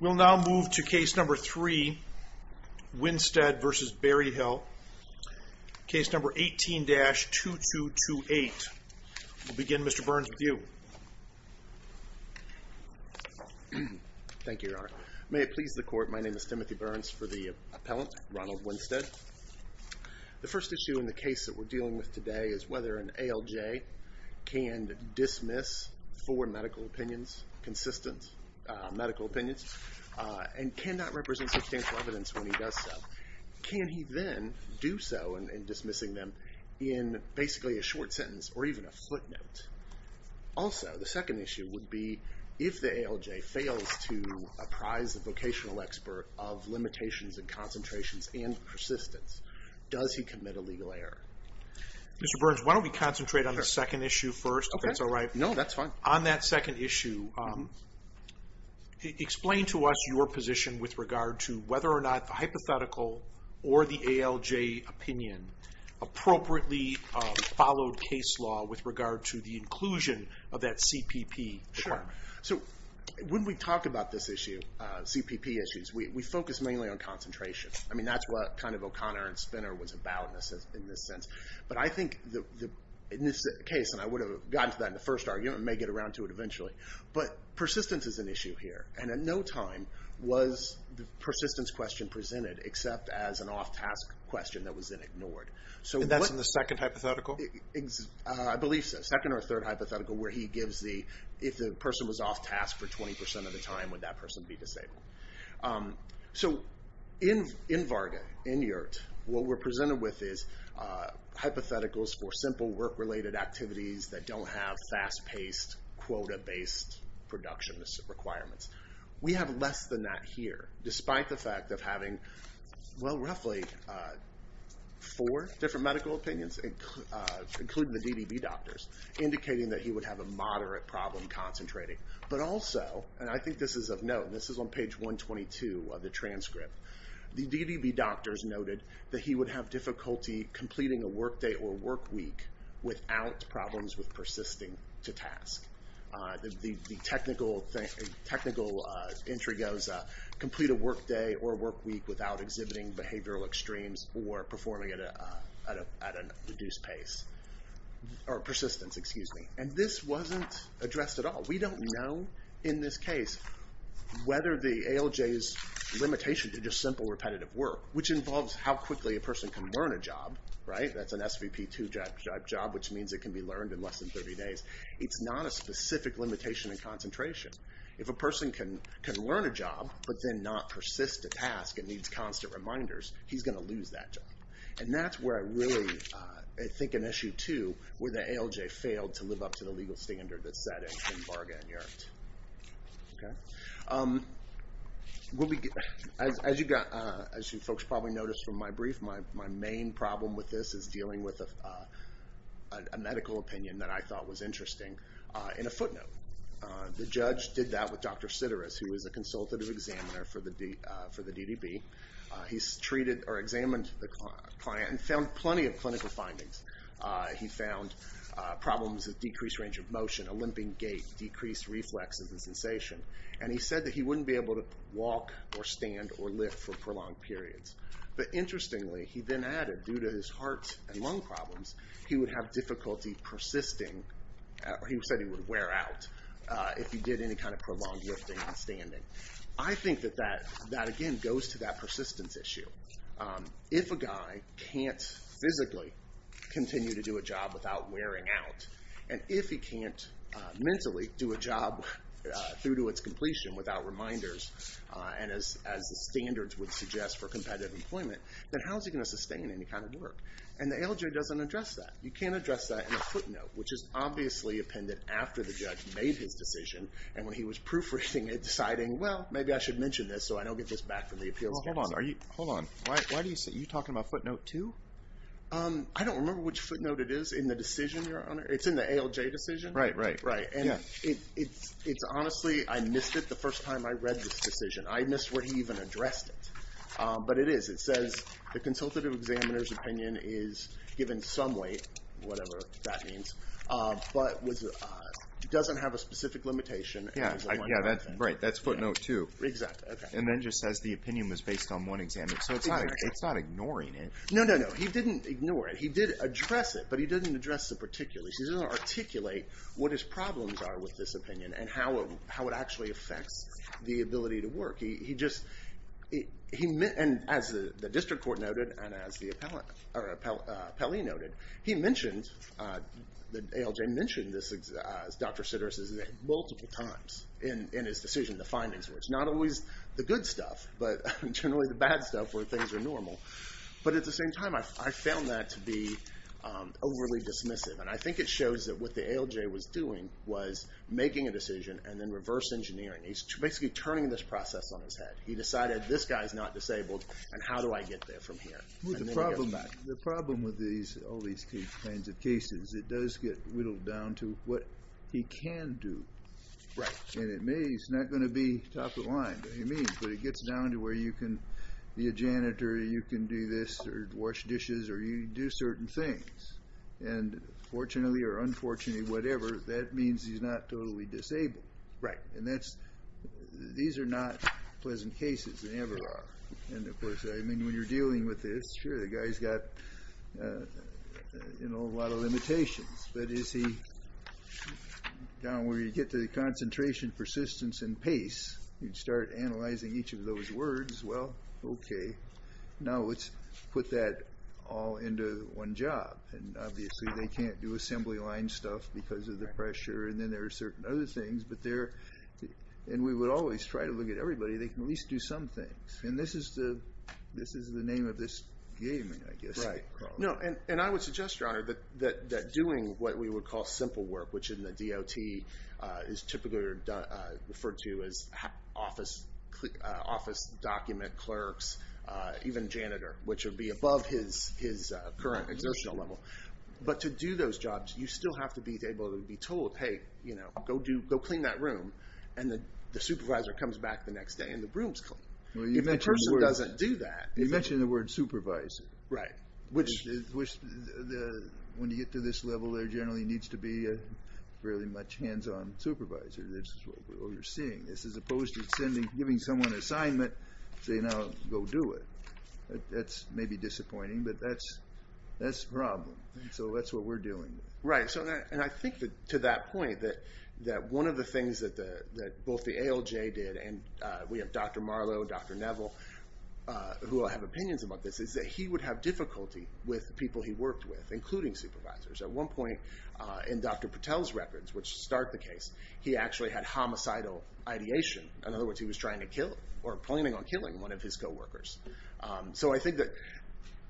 We'll now move to case number three, Winstead v. Berryhill, case number 18-2228. We'll begin, Mr. Burns, with you. Thank you, Your Honor. May it please the Court, my name is Timothy Burns for the appellant, Ronald Winstead. The first issue in the case that we're dealing with today is whether an ALJ can dismiss four medical opinions, consistent medical opinions, and cannot represent substantial evidence when he does so. Can he then do so in dismissing them in basically a short sentence or even a footnote? Also, the second issue would be if the ALJ fails to apprise the vocational expert of limitations and concentrations and persistence, does he commit a legal error? Mr. Burns, why don't we concentrate on the second issue first, if that's all right? No, that's fine. On that second issue, explain to us your position with regard to whether or not the hypothetical or the ALJ opinion appropriately followed case law with regard to the inclusion of that CPP. Sure. So when we talk about this issue, CPP issues, we focus mainly on concentration. I mean, that's what kind of O'Connor and Spinner was about in this sense. But I think in this case, and I would have gotten to that in the first argument and may get around to it eventually, but persistence is an issue here. And at no time was the persistence question presented except as an off-task question that was then ignored. And that's in the second hypothetical? I believe so. Second or third hypothetical where he gives the, if the person was off-task for 20% of the time, would that person be disabled? So in VARGA, in YERT, what we're presented with is hypotheticals for simple work-related activities that don't have fast-paced quota-based production requirements. We have less than that here, despite the fact of having, well, roughly four different medical opinions, including the DDB doctors, indicating that he would have a moderate problem concentrating. But also, and I think this is of note, this is on page 122 of the transcript, the DDB doctors noted that he would have difficulty completing a workday or workweek without problems with persisting to task. The technical entry goes, complete a workday or workweek without exhibiting behavioral extremes or performing at a reduced pace, or persistence, excuse me. And this wasn't addressed at all. We don't know, in this case, whether the ALJ's limitation to just simple repetitive work, which involves how quickly a person can learn a job, right? That's an SVP2 type job, which means it can be learned in less than 30 days. It's not a specific limitation in concentration. If a person can learn a job, but then not persist to task and needs constant reminders, he's going to lose that job. And that's where I really think an issue, too, where the ALJ failed to live up to the legal standard that's set in Bargain Yard. As you folks probably noticed from my brief, my main problem with this is dealing with a medical opinion that I thought was interesting in a footnote. The judge did that with Dr. Sideris, who is a consultative examiner for the DDB. He's treated or examined the client and found plenty of clinical findings. He found problems with decreased range of motion, a limping gait, decreased reflexes and sensation. And he said that he wouldn't be able to walk or stand or lift for prolonged periods. But interestingly, he then added, due to his heart and lung problems, he would have difficulty persisting, or he said he would wear out if he did any kind of prolonged lifting and standing. I think that that, again, goes to that persistence issue. If a guy can't physically continue to do a job without wearing out, and if he can't mentally do a job through to its completion without reminders, and as the standards would suggest for competitive employment, then how is he going to sustain any kind of work? And the ALJ doesn't address that. You can't address that in a footnote, which is obviously appended after the judge made his decision and when he was proofreading it, deciding, well, maybe I should mention this so I don't get this back from the appeals counsel. Hold on. Why do you say, are you talking about footnote two? I don't remember which footnote it is in the decision, your honor. It's in the ALJ decision. Right, right. Right. And it's honestly, I missed it the first time I read this decision. I missed where he even addressed it. But it is, it says the consultative examiner's opinion is given some weight, whatever that means, but doesn't have a specific limitation. Yeah, right. That's footnote two. Exactly, okay. And then just says the opinion was based on one exam. So it's not ignoring it. No, no, no. He didn't ignore it. He did address it, but he didn't address the particulars. He didn't articulate what his problems are with this opinion and how it actually affects the ability to work. He just, and as the district court noted, and as the appellee noted, he mentioned, the ALJ mentioned this, Dr. Sideris' name multiple times in his decision, the findings where it's not always the good stuff, but generally the bad stuff where things are normal. But at the same time, I found that to be overly dismissive. And I think it shows that what he's doing is misengineering. He's basically turning this process on his head. He decided, this guy's not disabled, and how do I get there from here? Move the problem back. The problem with all these kinds of cases, it does get whittled down to what he can do. Right. And it may, it's not going to be top of the line, what he means, but it gets down to where you can be a janitor, you can do this, or wash dishes, or you can do certain things. And fortunately or unfortunately, whatever, that means he's not totally disabled. Right. And that's, these are not pleasant cases, they never are. And of course, I mean, when you're dealing with this, sure, the guy's got, you know, a lot of limitations, but is he, down where you get to the concentration, persistence, and pace, you'd start analyzing each of those words, well, okay, now let's put that all into one job. And obviously, they can't do assembly line stuff because of the pressure, and then there are certain other things, but they're, and we would always try to look at everybody, they can at least do some things. And this is the, this is the name of this game, I guess. Right. No, and I would suggest, Your Honor, that doing what we would call simple work, which in the DOT is typically referred to as office, office document clerks, even janitor, which would be above his current exertional level. But to do those jobs, you still have to be able to be told, hey, you know, go do, go clean that room, and the supervisor comes back the next day, and the room's clean. If a person doesn't do that, You mentioned the word supervisor. Right. Which, when you get to this level, there generally needs to be a fairly much hands-on supervisor, this is what we're seeing. This is opposed to sending, giving someone an assignment, say, now go do it. That's maybe disappointing, but that's, that's the problem. So that's what we're dealing with. Right. So, and I think that, to that point, that one of the things that the, that both the ALJ did, and we have Dr. Marlow, Dr. Neville, who will have opinions about this, is that he would have difficulty with people he worked with, including supervisors. At one point, in Dr. Patel's records, which start the case, he actually had homicidal ideation. In other words, he was trying to kill, or planning on killing one of his co-workers. So I think that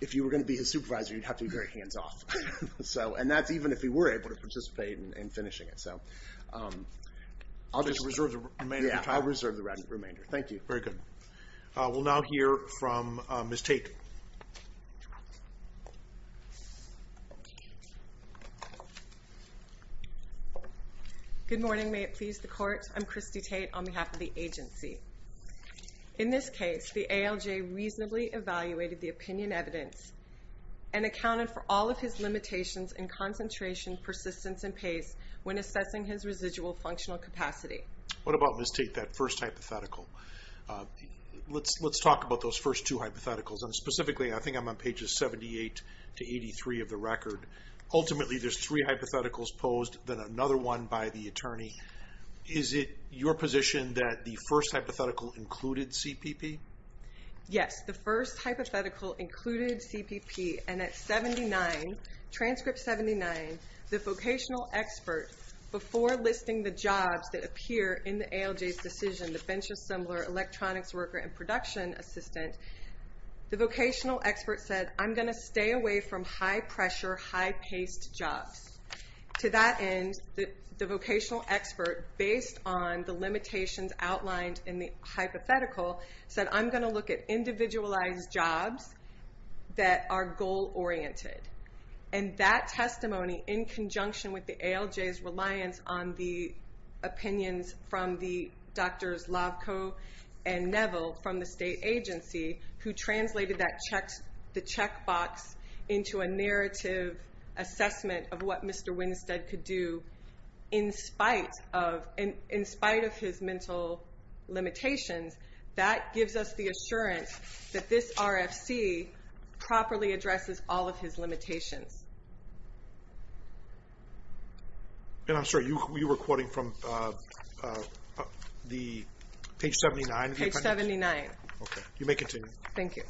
if you were gonna be his supervisor, you'd have to be very hands-off. So, and that's even if he were able to participate in finishing it. So, I'll just reserve the remainder of your time. Yeah, I'll reserve the remainder. Thank you. Very good. We'll now hear from Ms. Tate. Good morning, may it please the court. I'm Christy Tate on behalf of the agency. In this case, I'm going to be speaking about the first two hypotheticals. The first hypothetical is that the attorney posed the first hypothetical. And that the attorney accounted for all of his limitations in concentration, persistence, and pace when assessing his residual functional capacity. What about Ms. Tate, that first hypothetical? Let's talk about those first two hypotheticals. And specifically, I think I'm on pages 78 to 83 of the record. Ultimately, there's three hypotheticals posed, then another one by the attorney. Page 79, transcript 79, the vocational expert, before listing the jobs that appear in the ALJ's decision, the bench assembler, electronics worker, and production assistant, the vocational expert said, I'm gonna stay away from high-pressure, high-paced jobs. To that end, the vocational expert, based on the limitations outlined in the hypothetical, said, I'm gonna look at individualized jobs that are goal-oriented. And that testimony, in conjunction with the ALJ's reliance on the opinions from the doctors Lovko and Neville from the state agency, who translated the checkbox into a narrative assessment of what Mr. Winstead could do, in spite of his mental limitations, that gives us the assurance that this RFC properly addresses all of his limitations. And I'm sorry, you were quoting from page 79? Page 79. Okay, you may continue. Thank you.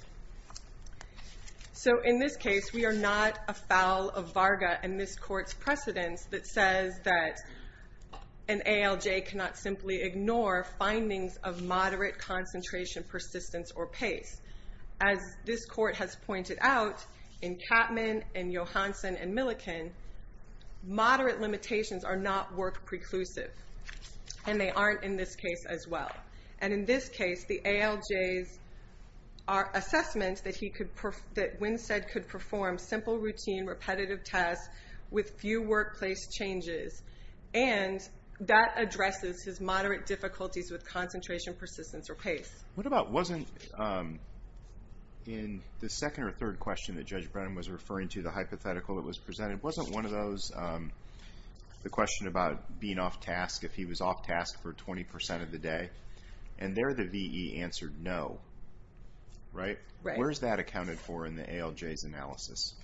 So in this case, we are not afoul of Varga and this court's precedence that says that an ALJ cannot simply ignore findings of moderate concentration, persistence, or pace. As this court has pointed out, in Katman, in Johansson, and Milliken, moderate limitations are not work-preclusive. And they aren't in this case as well. And in this case, the ALJ's assessment that Winstead could perform simple, routine, repetitive tasks with few workplace changes, and that addresses his moderate difficulties with concentration, persistence, or pace. What about, wasn't in the second or third question that Judge Brennan was referring to, the hypothetical that was presented, wasn't one of those, the question about being off-task, if he was off-task for 20% of the day? And there, the VE answered no. Right? Where is that accounted for in the ALJ's analysis?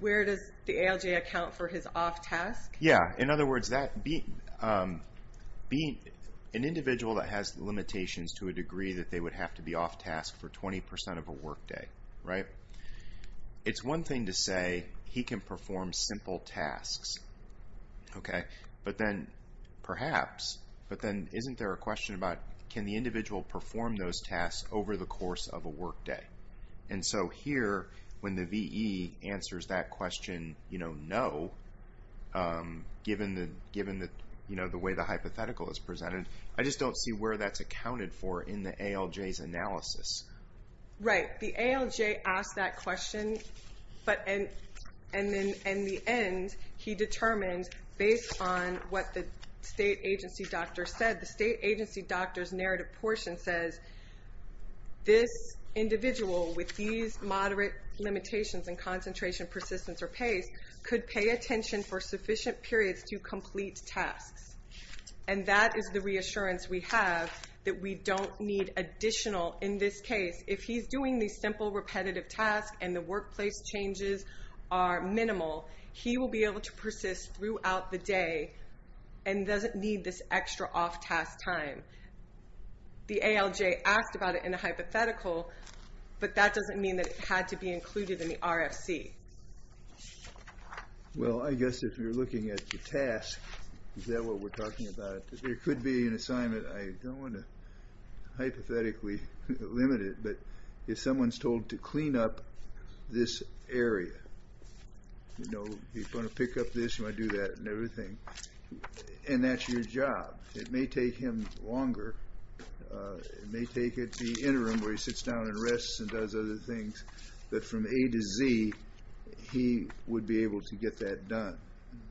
Where does the ALJ account for his off-task? Yeah, in other words, an individual that has limitations to a degree that they would have to be off-task for 20% of a work day. Right? It's one thing to say, he can perform simple tasks. Okay? But then, perhaps, but then isn't there a question about, can the individual perform those tasks over the course of a work day? And so here, when the VE answers that question, you know, no, given the way the hypothetical is presented, I just don't see where that's accounted for in the ALJ's analysis. Right. The ALJ asked that question, but in the end, he determined, based on what the state agency doctor said, the state agency doctor's narrative portion says, this individual, with these moderate limitations in concentration, persistence, or pace, could pay attention for sufficient periods to complete tasks. And that is the reassurance we have that we don't need additional, in this case, if he's doing these simple repetitive tasks and the workplace changes are minimal, he will be able to persist throughout the day and doesn't need this extra off-task time. The ALJ asked about it in a hypothetical, but that doesn't mean that it had to be included in the RFC. Well, I guess if you're looking at the task, is that what we're talking about? It could be an assignment. I don't want to hypothetically limit it, but if someone's told to clean up this area, you know, he's going to pick up this, he might do that, and everything, and that's your job. It may take him longer. It may take at the interim where he sits down and rests and does other things, but from A to Z, he would be able to get that done.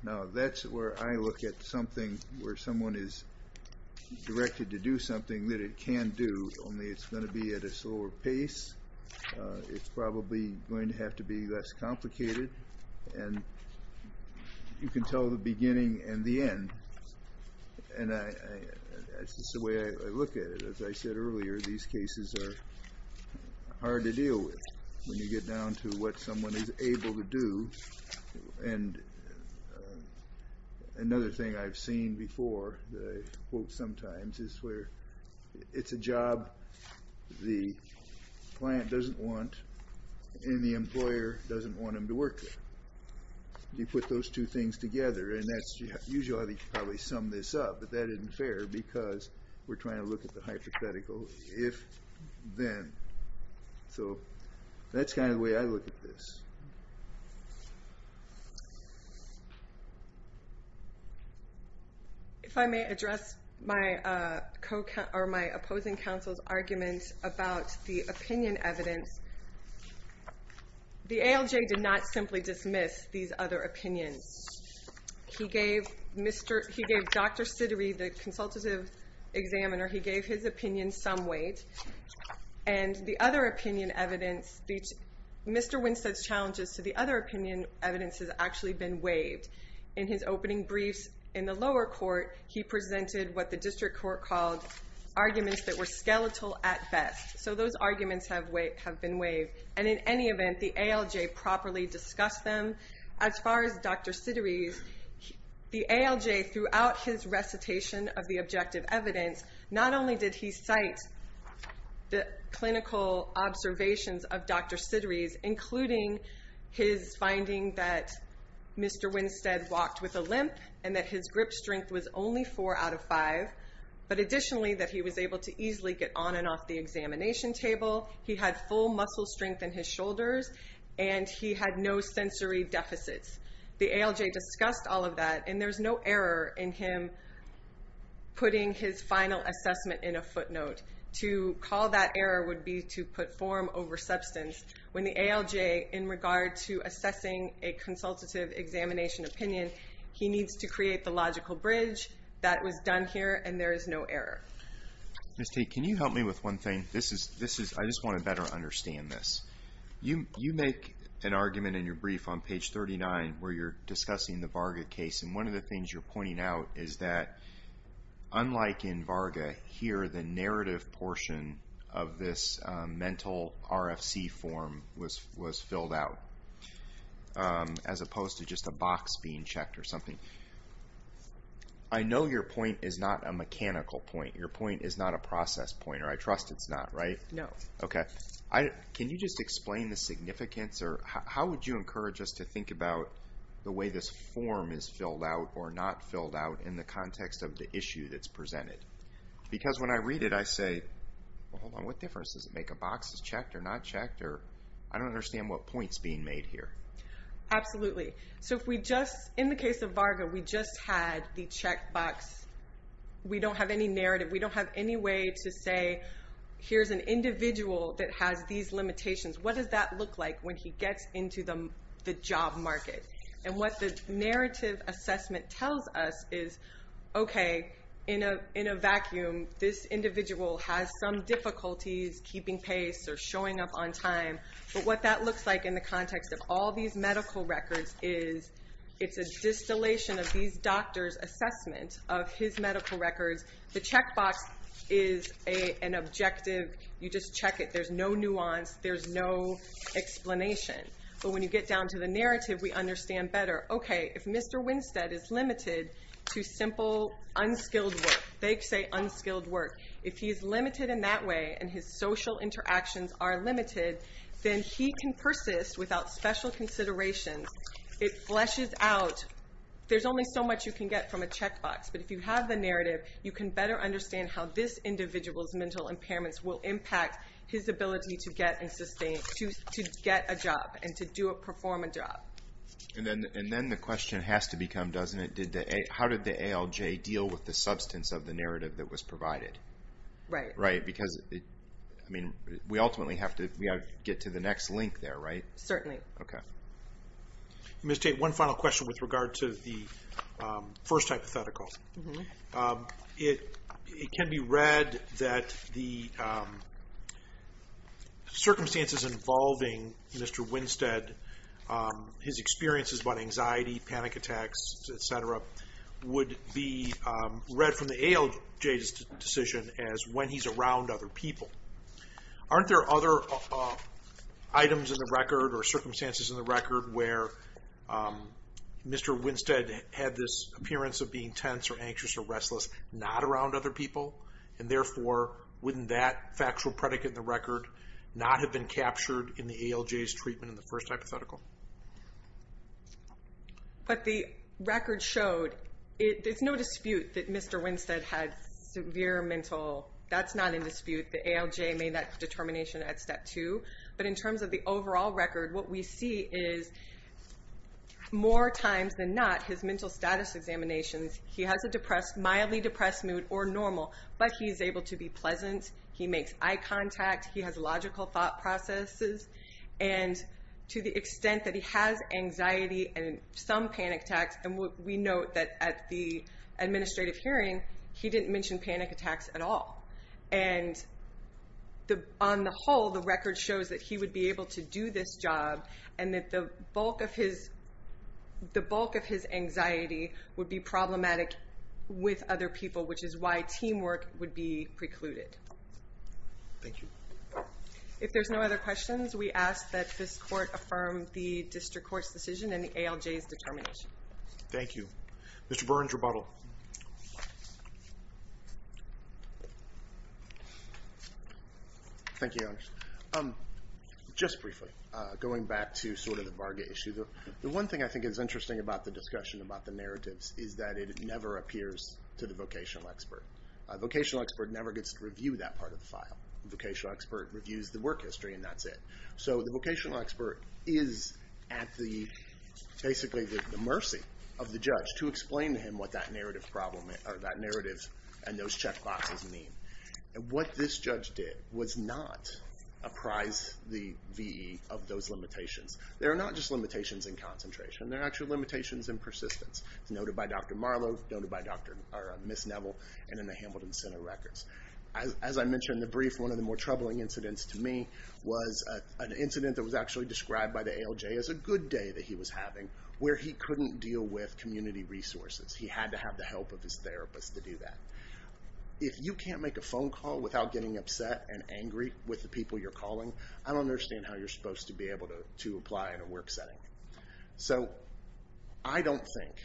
Now, that's where I look at something where someone is directed to do something that it can do, only it's going to be at a slower pace, it's probably going to have to be less complicated, and you can tell the beginning and the end. And that's just the way I look at it. As I said earlier, these cases are hard to deal with when you get down to what someone is able to do. And another thing I've seen before that I quote sometimes is where it's a job the client doesn't want, and the employer doesn't want him to work there. You put those two things together, and that's usually how they probably sum this up, but that isn't fair because we're trying to look at the hypothetical if-then. So that's kind of the way I look at this. If I may address my opposing counsel's argument about the opinion evidence. The ALJ did not simply dismiss these other opinions. He gave Dr. Siddery, the consultative examiner, he gave his opinion some weight, and the other opinion evidence, Mr. Winstead's challenges to the other opinion evidence has actually been waived. In his opening briefs in the lower court, he presented what the district court called arguments that were skeletal at best. So those arguments have been waived. And in any event, the ALJ properly discussed them. As far as Dr. Siddery's, the ALJ throughout his recitation of the objective evidence, not only did he cite the clinical observations of Dr. Siddery's, including his finding that Mr. Winstead walked with a limp and that his grip strength was only four out of five, but additionally that he was able to easily get on and off the examination table, he had full muscle strength in his shoulders, and he had no sensory deficits. The ALJ discussed all of that, and there's no error in him putting his final assessment in a footnote. To call that error would be to put form over substance. When the ALJ, in regard to assessing a consultative examination opinion, he needs to create the logical bridge. That was done here, and there is no error. Mr. Tate, can you help me with one thing? I just want to better understand this. You make an argument in your brief on page 39 where you're discussing the Varga case, and one of the things you're pointing out is that unlike in Varga, here the narrative portion of this mental RFC form was filled out, as opposed to just a box being checked or something. I know your point is not a mechanical point. Your point is not a process point, or I trust it's not, right? No. Okay. Can you just explain the significance, or how would you encourage us to think about the way this form is filled out or not filled out in the context of the issue that's presented? Because when I read it, I say, hold on, what difference does it make if a box is checked or not checked? I don't understand what point is being made here. Absolutely. In the case of Varga, we just had the checked box. We don't have any narrative. We don't have any way to say, here's an individual that has these limitations. What does that look like when he gets into the job market? And what the narrative assessment tells us is, okay, in a vacuum, this individual has some difficulties keeping pace or showing up on time. But what that looks like in the context of all these medical records is it's a distillation of these doctors' assessment of his medical records. The checked box is an objective. You just check it. There's no nuance. There's no explanation. But when you get down to the narrative, we understand better. Okay, if Mr. Winstead is limited to simple, unskilled work, they say unskilled work, if he is limited in that way and his social interactions are limited, then he can persist without special considerations. It fleshes out. There's only so much you can get from a checked box. But if you have the narrative, you can better understand how this individual's mental impairments will impact his ability to get a job and to perform a job. And then the question has to become, doesn't it, how did the ALJ deal with the substance of the narrative that was provided? Right. Right, because, I mean, we ultimately have to get to the next link there, right? Certainly. Okay. Ms. Tate, one final question with regard to the first hypothetical. It can be read that the circumstances involving Mr. Winstead, his experiences about anxiety, panic attacks, et cetera, would be read from the ALJ's decision as when he's around other people. Aren't there other items in the record or circumstances in the record where Mr. Winstead is tense or anxious or restless, not around other people? And, therefore, wouldn't that factual predicate in the record not have been captured in the ALJ's treatment in the first hypothetical? But the record showed there's no dispute that Mr. Winstead had severe mental. That's not in dispute. The ALJ made that determination at step two. But in terms of the overall record, what we see is more times than not his mental status examinations, he has a depressed, mildly depressed mood or normal, but he's able to be pleasant. He makes eye contact. He has logical thought processes. And to the extent that he has anxiety and some panic attacks, and we note that at the administrative hearing, he didn't mention panic attacks at all. And on the whole, the record shows that he would be able to do this job and that the bulk of his anxiety would be problematic with other people, which is why teamwork would be precluded. Thank you. If there's no other questions, we ask that this court affirm the district court's decision and the ALJ's determination. Thank you. Mr. Burns, rebuttal. Thank you, Your Honor. Just briefly, going back to sort of the Varga issue, the one thing I think is interesting about the discussion about the narratives is that it never appears to the vocational expert. A vocational expert never gets to review that part of the file. A vocational expert reviews the work history, and that's it. So the vocational expert is at basically the mercy of the judge to explain to him what that narrative and those check boxes mean. What this judge did was not apprise the V.E. of those limitations. They're not just limitations in concentration. They're actually limitations in persistence. It's noted by Dr. Marlow, noted by Ms. Neville, and in the Hamilton Center records. As I mentioned in the brief, one of the more troubling incidents to me was an incident that was actually described by the ALJ as a good day that he was having where he couldn't deal with community resources. He had to have the help of his therapist to do that. If you can't make a phone call without getting upset and angry with the people you're calling, I don't understand how you're supposed to be able to apply in a work setting. So I don't think,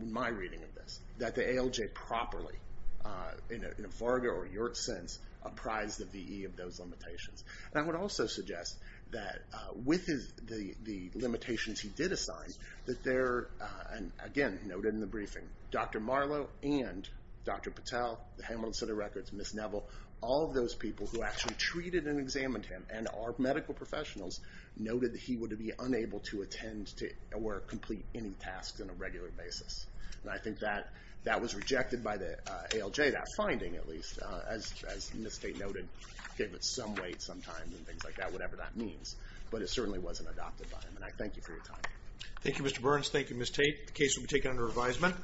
in my reading of this, that the ALJ properly, in a Varga or Yurts sense, apprised the V.E. of those limitations. And I would also suggest that with the limitations he did assign, again, noted in the briefing, Dr. Marlow and Dr. Patel, the Hamilton Center records, Ms. Neville, all of those people who actually treated and examined him and are medical professionals, noted that he would be unable to attend or complete any tasks on a regular basis. And I think that was rejected by the ALJ, that finding at least, as Ms. Tate noted, gave it some weight sometimes, and things like that, whatever that means. But it certainly wasn't adopted by him. And I thank you for your time. Thank you, Mr. Burns. Thank you, Ms. Tate. The case will be taken under advisement.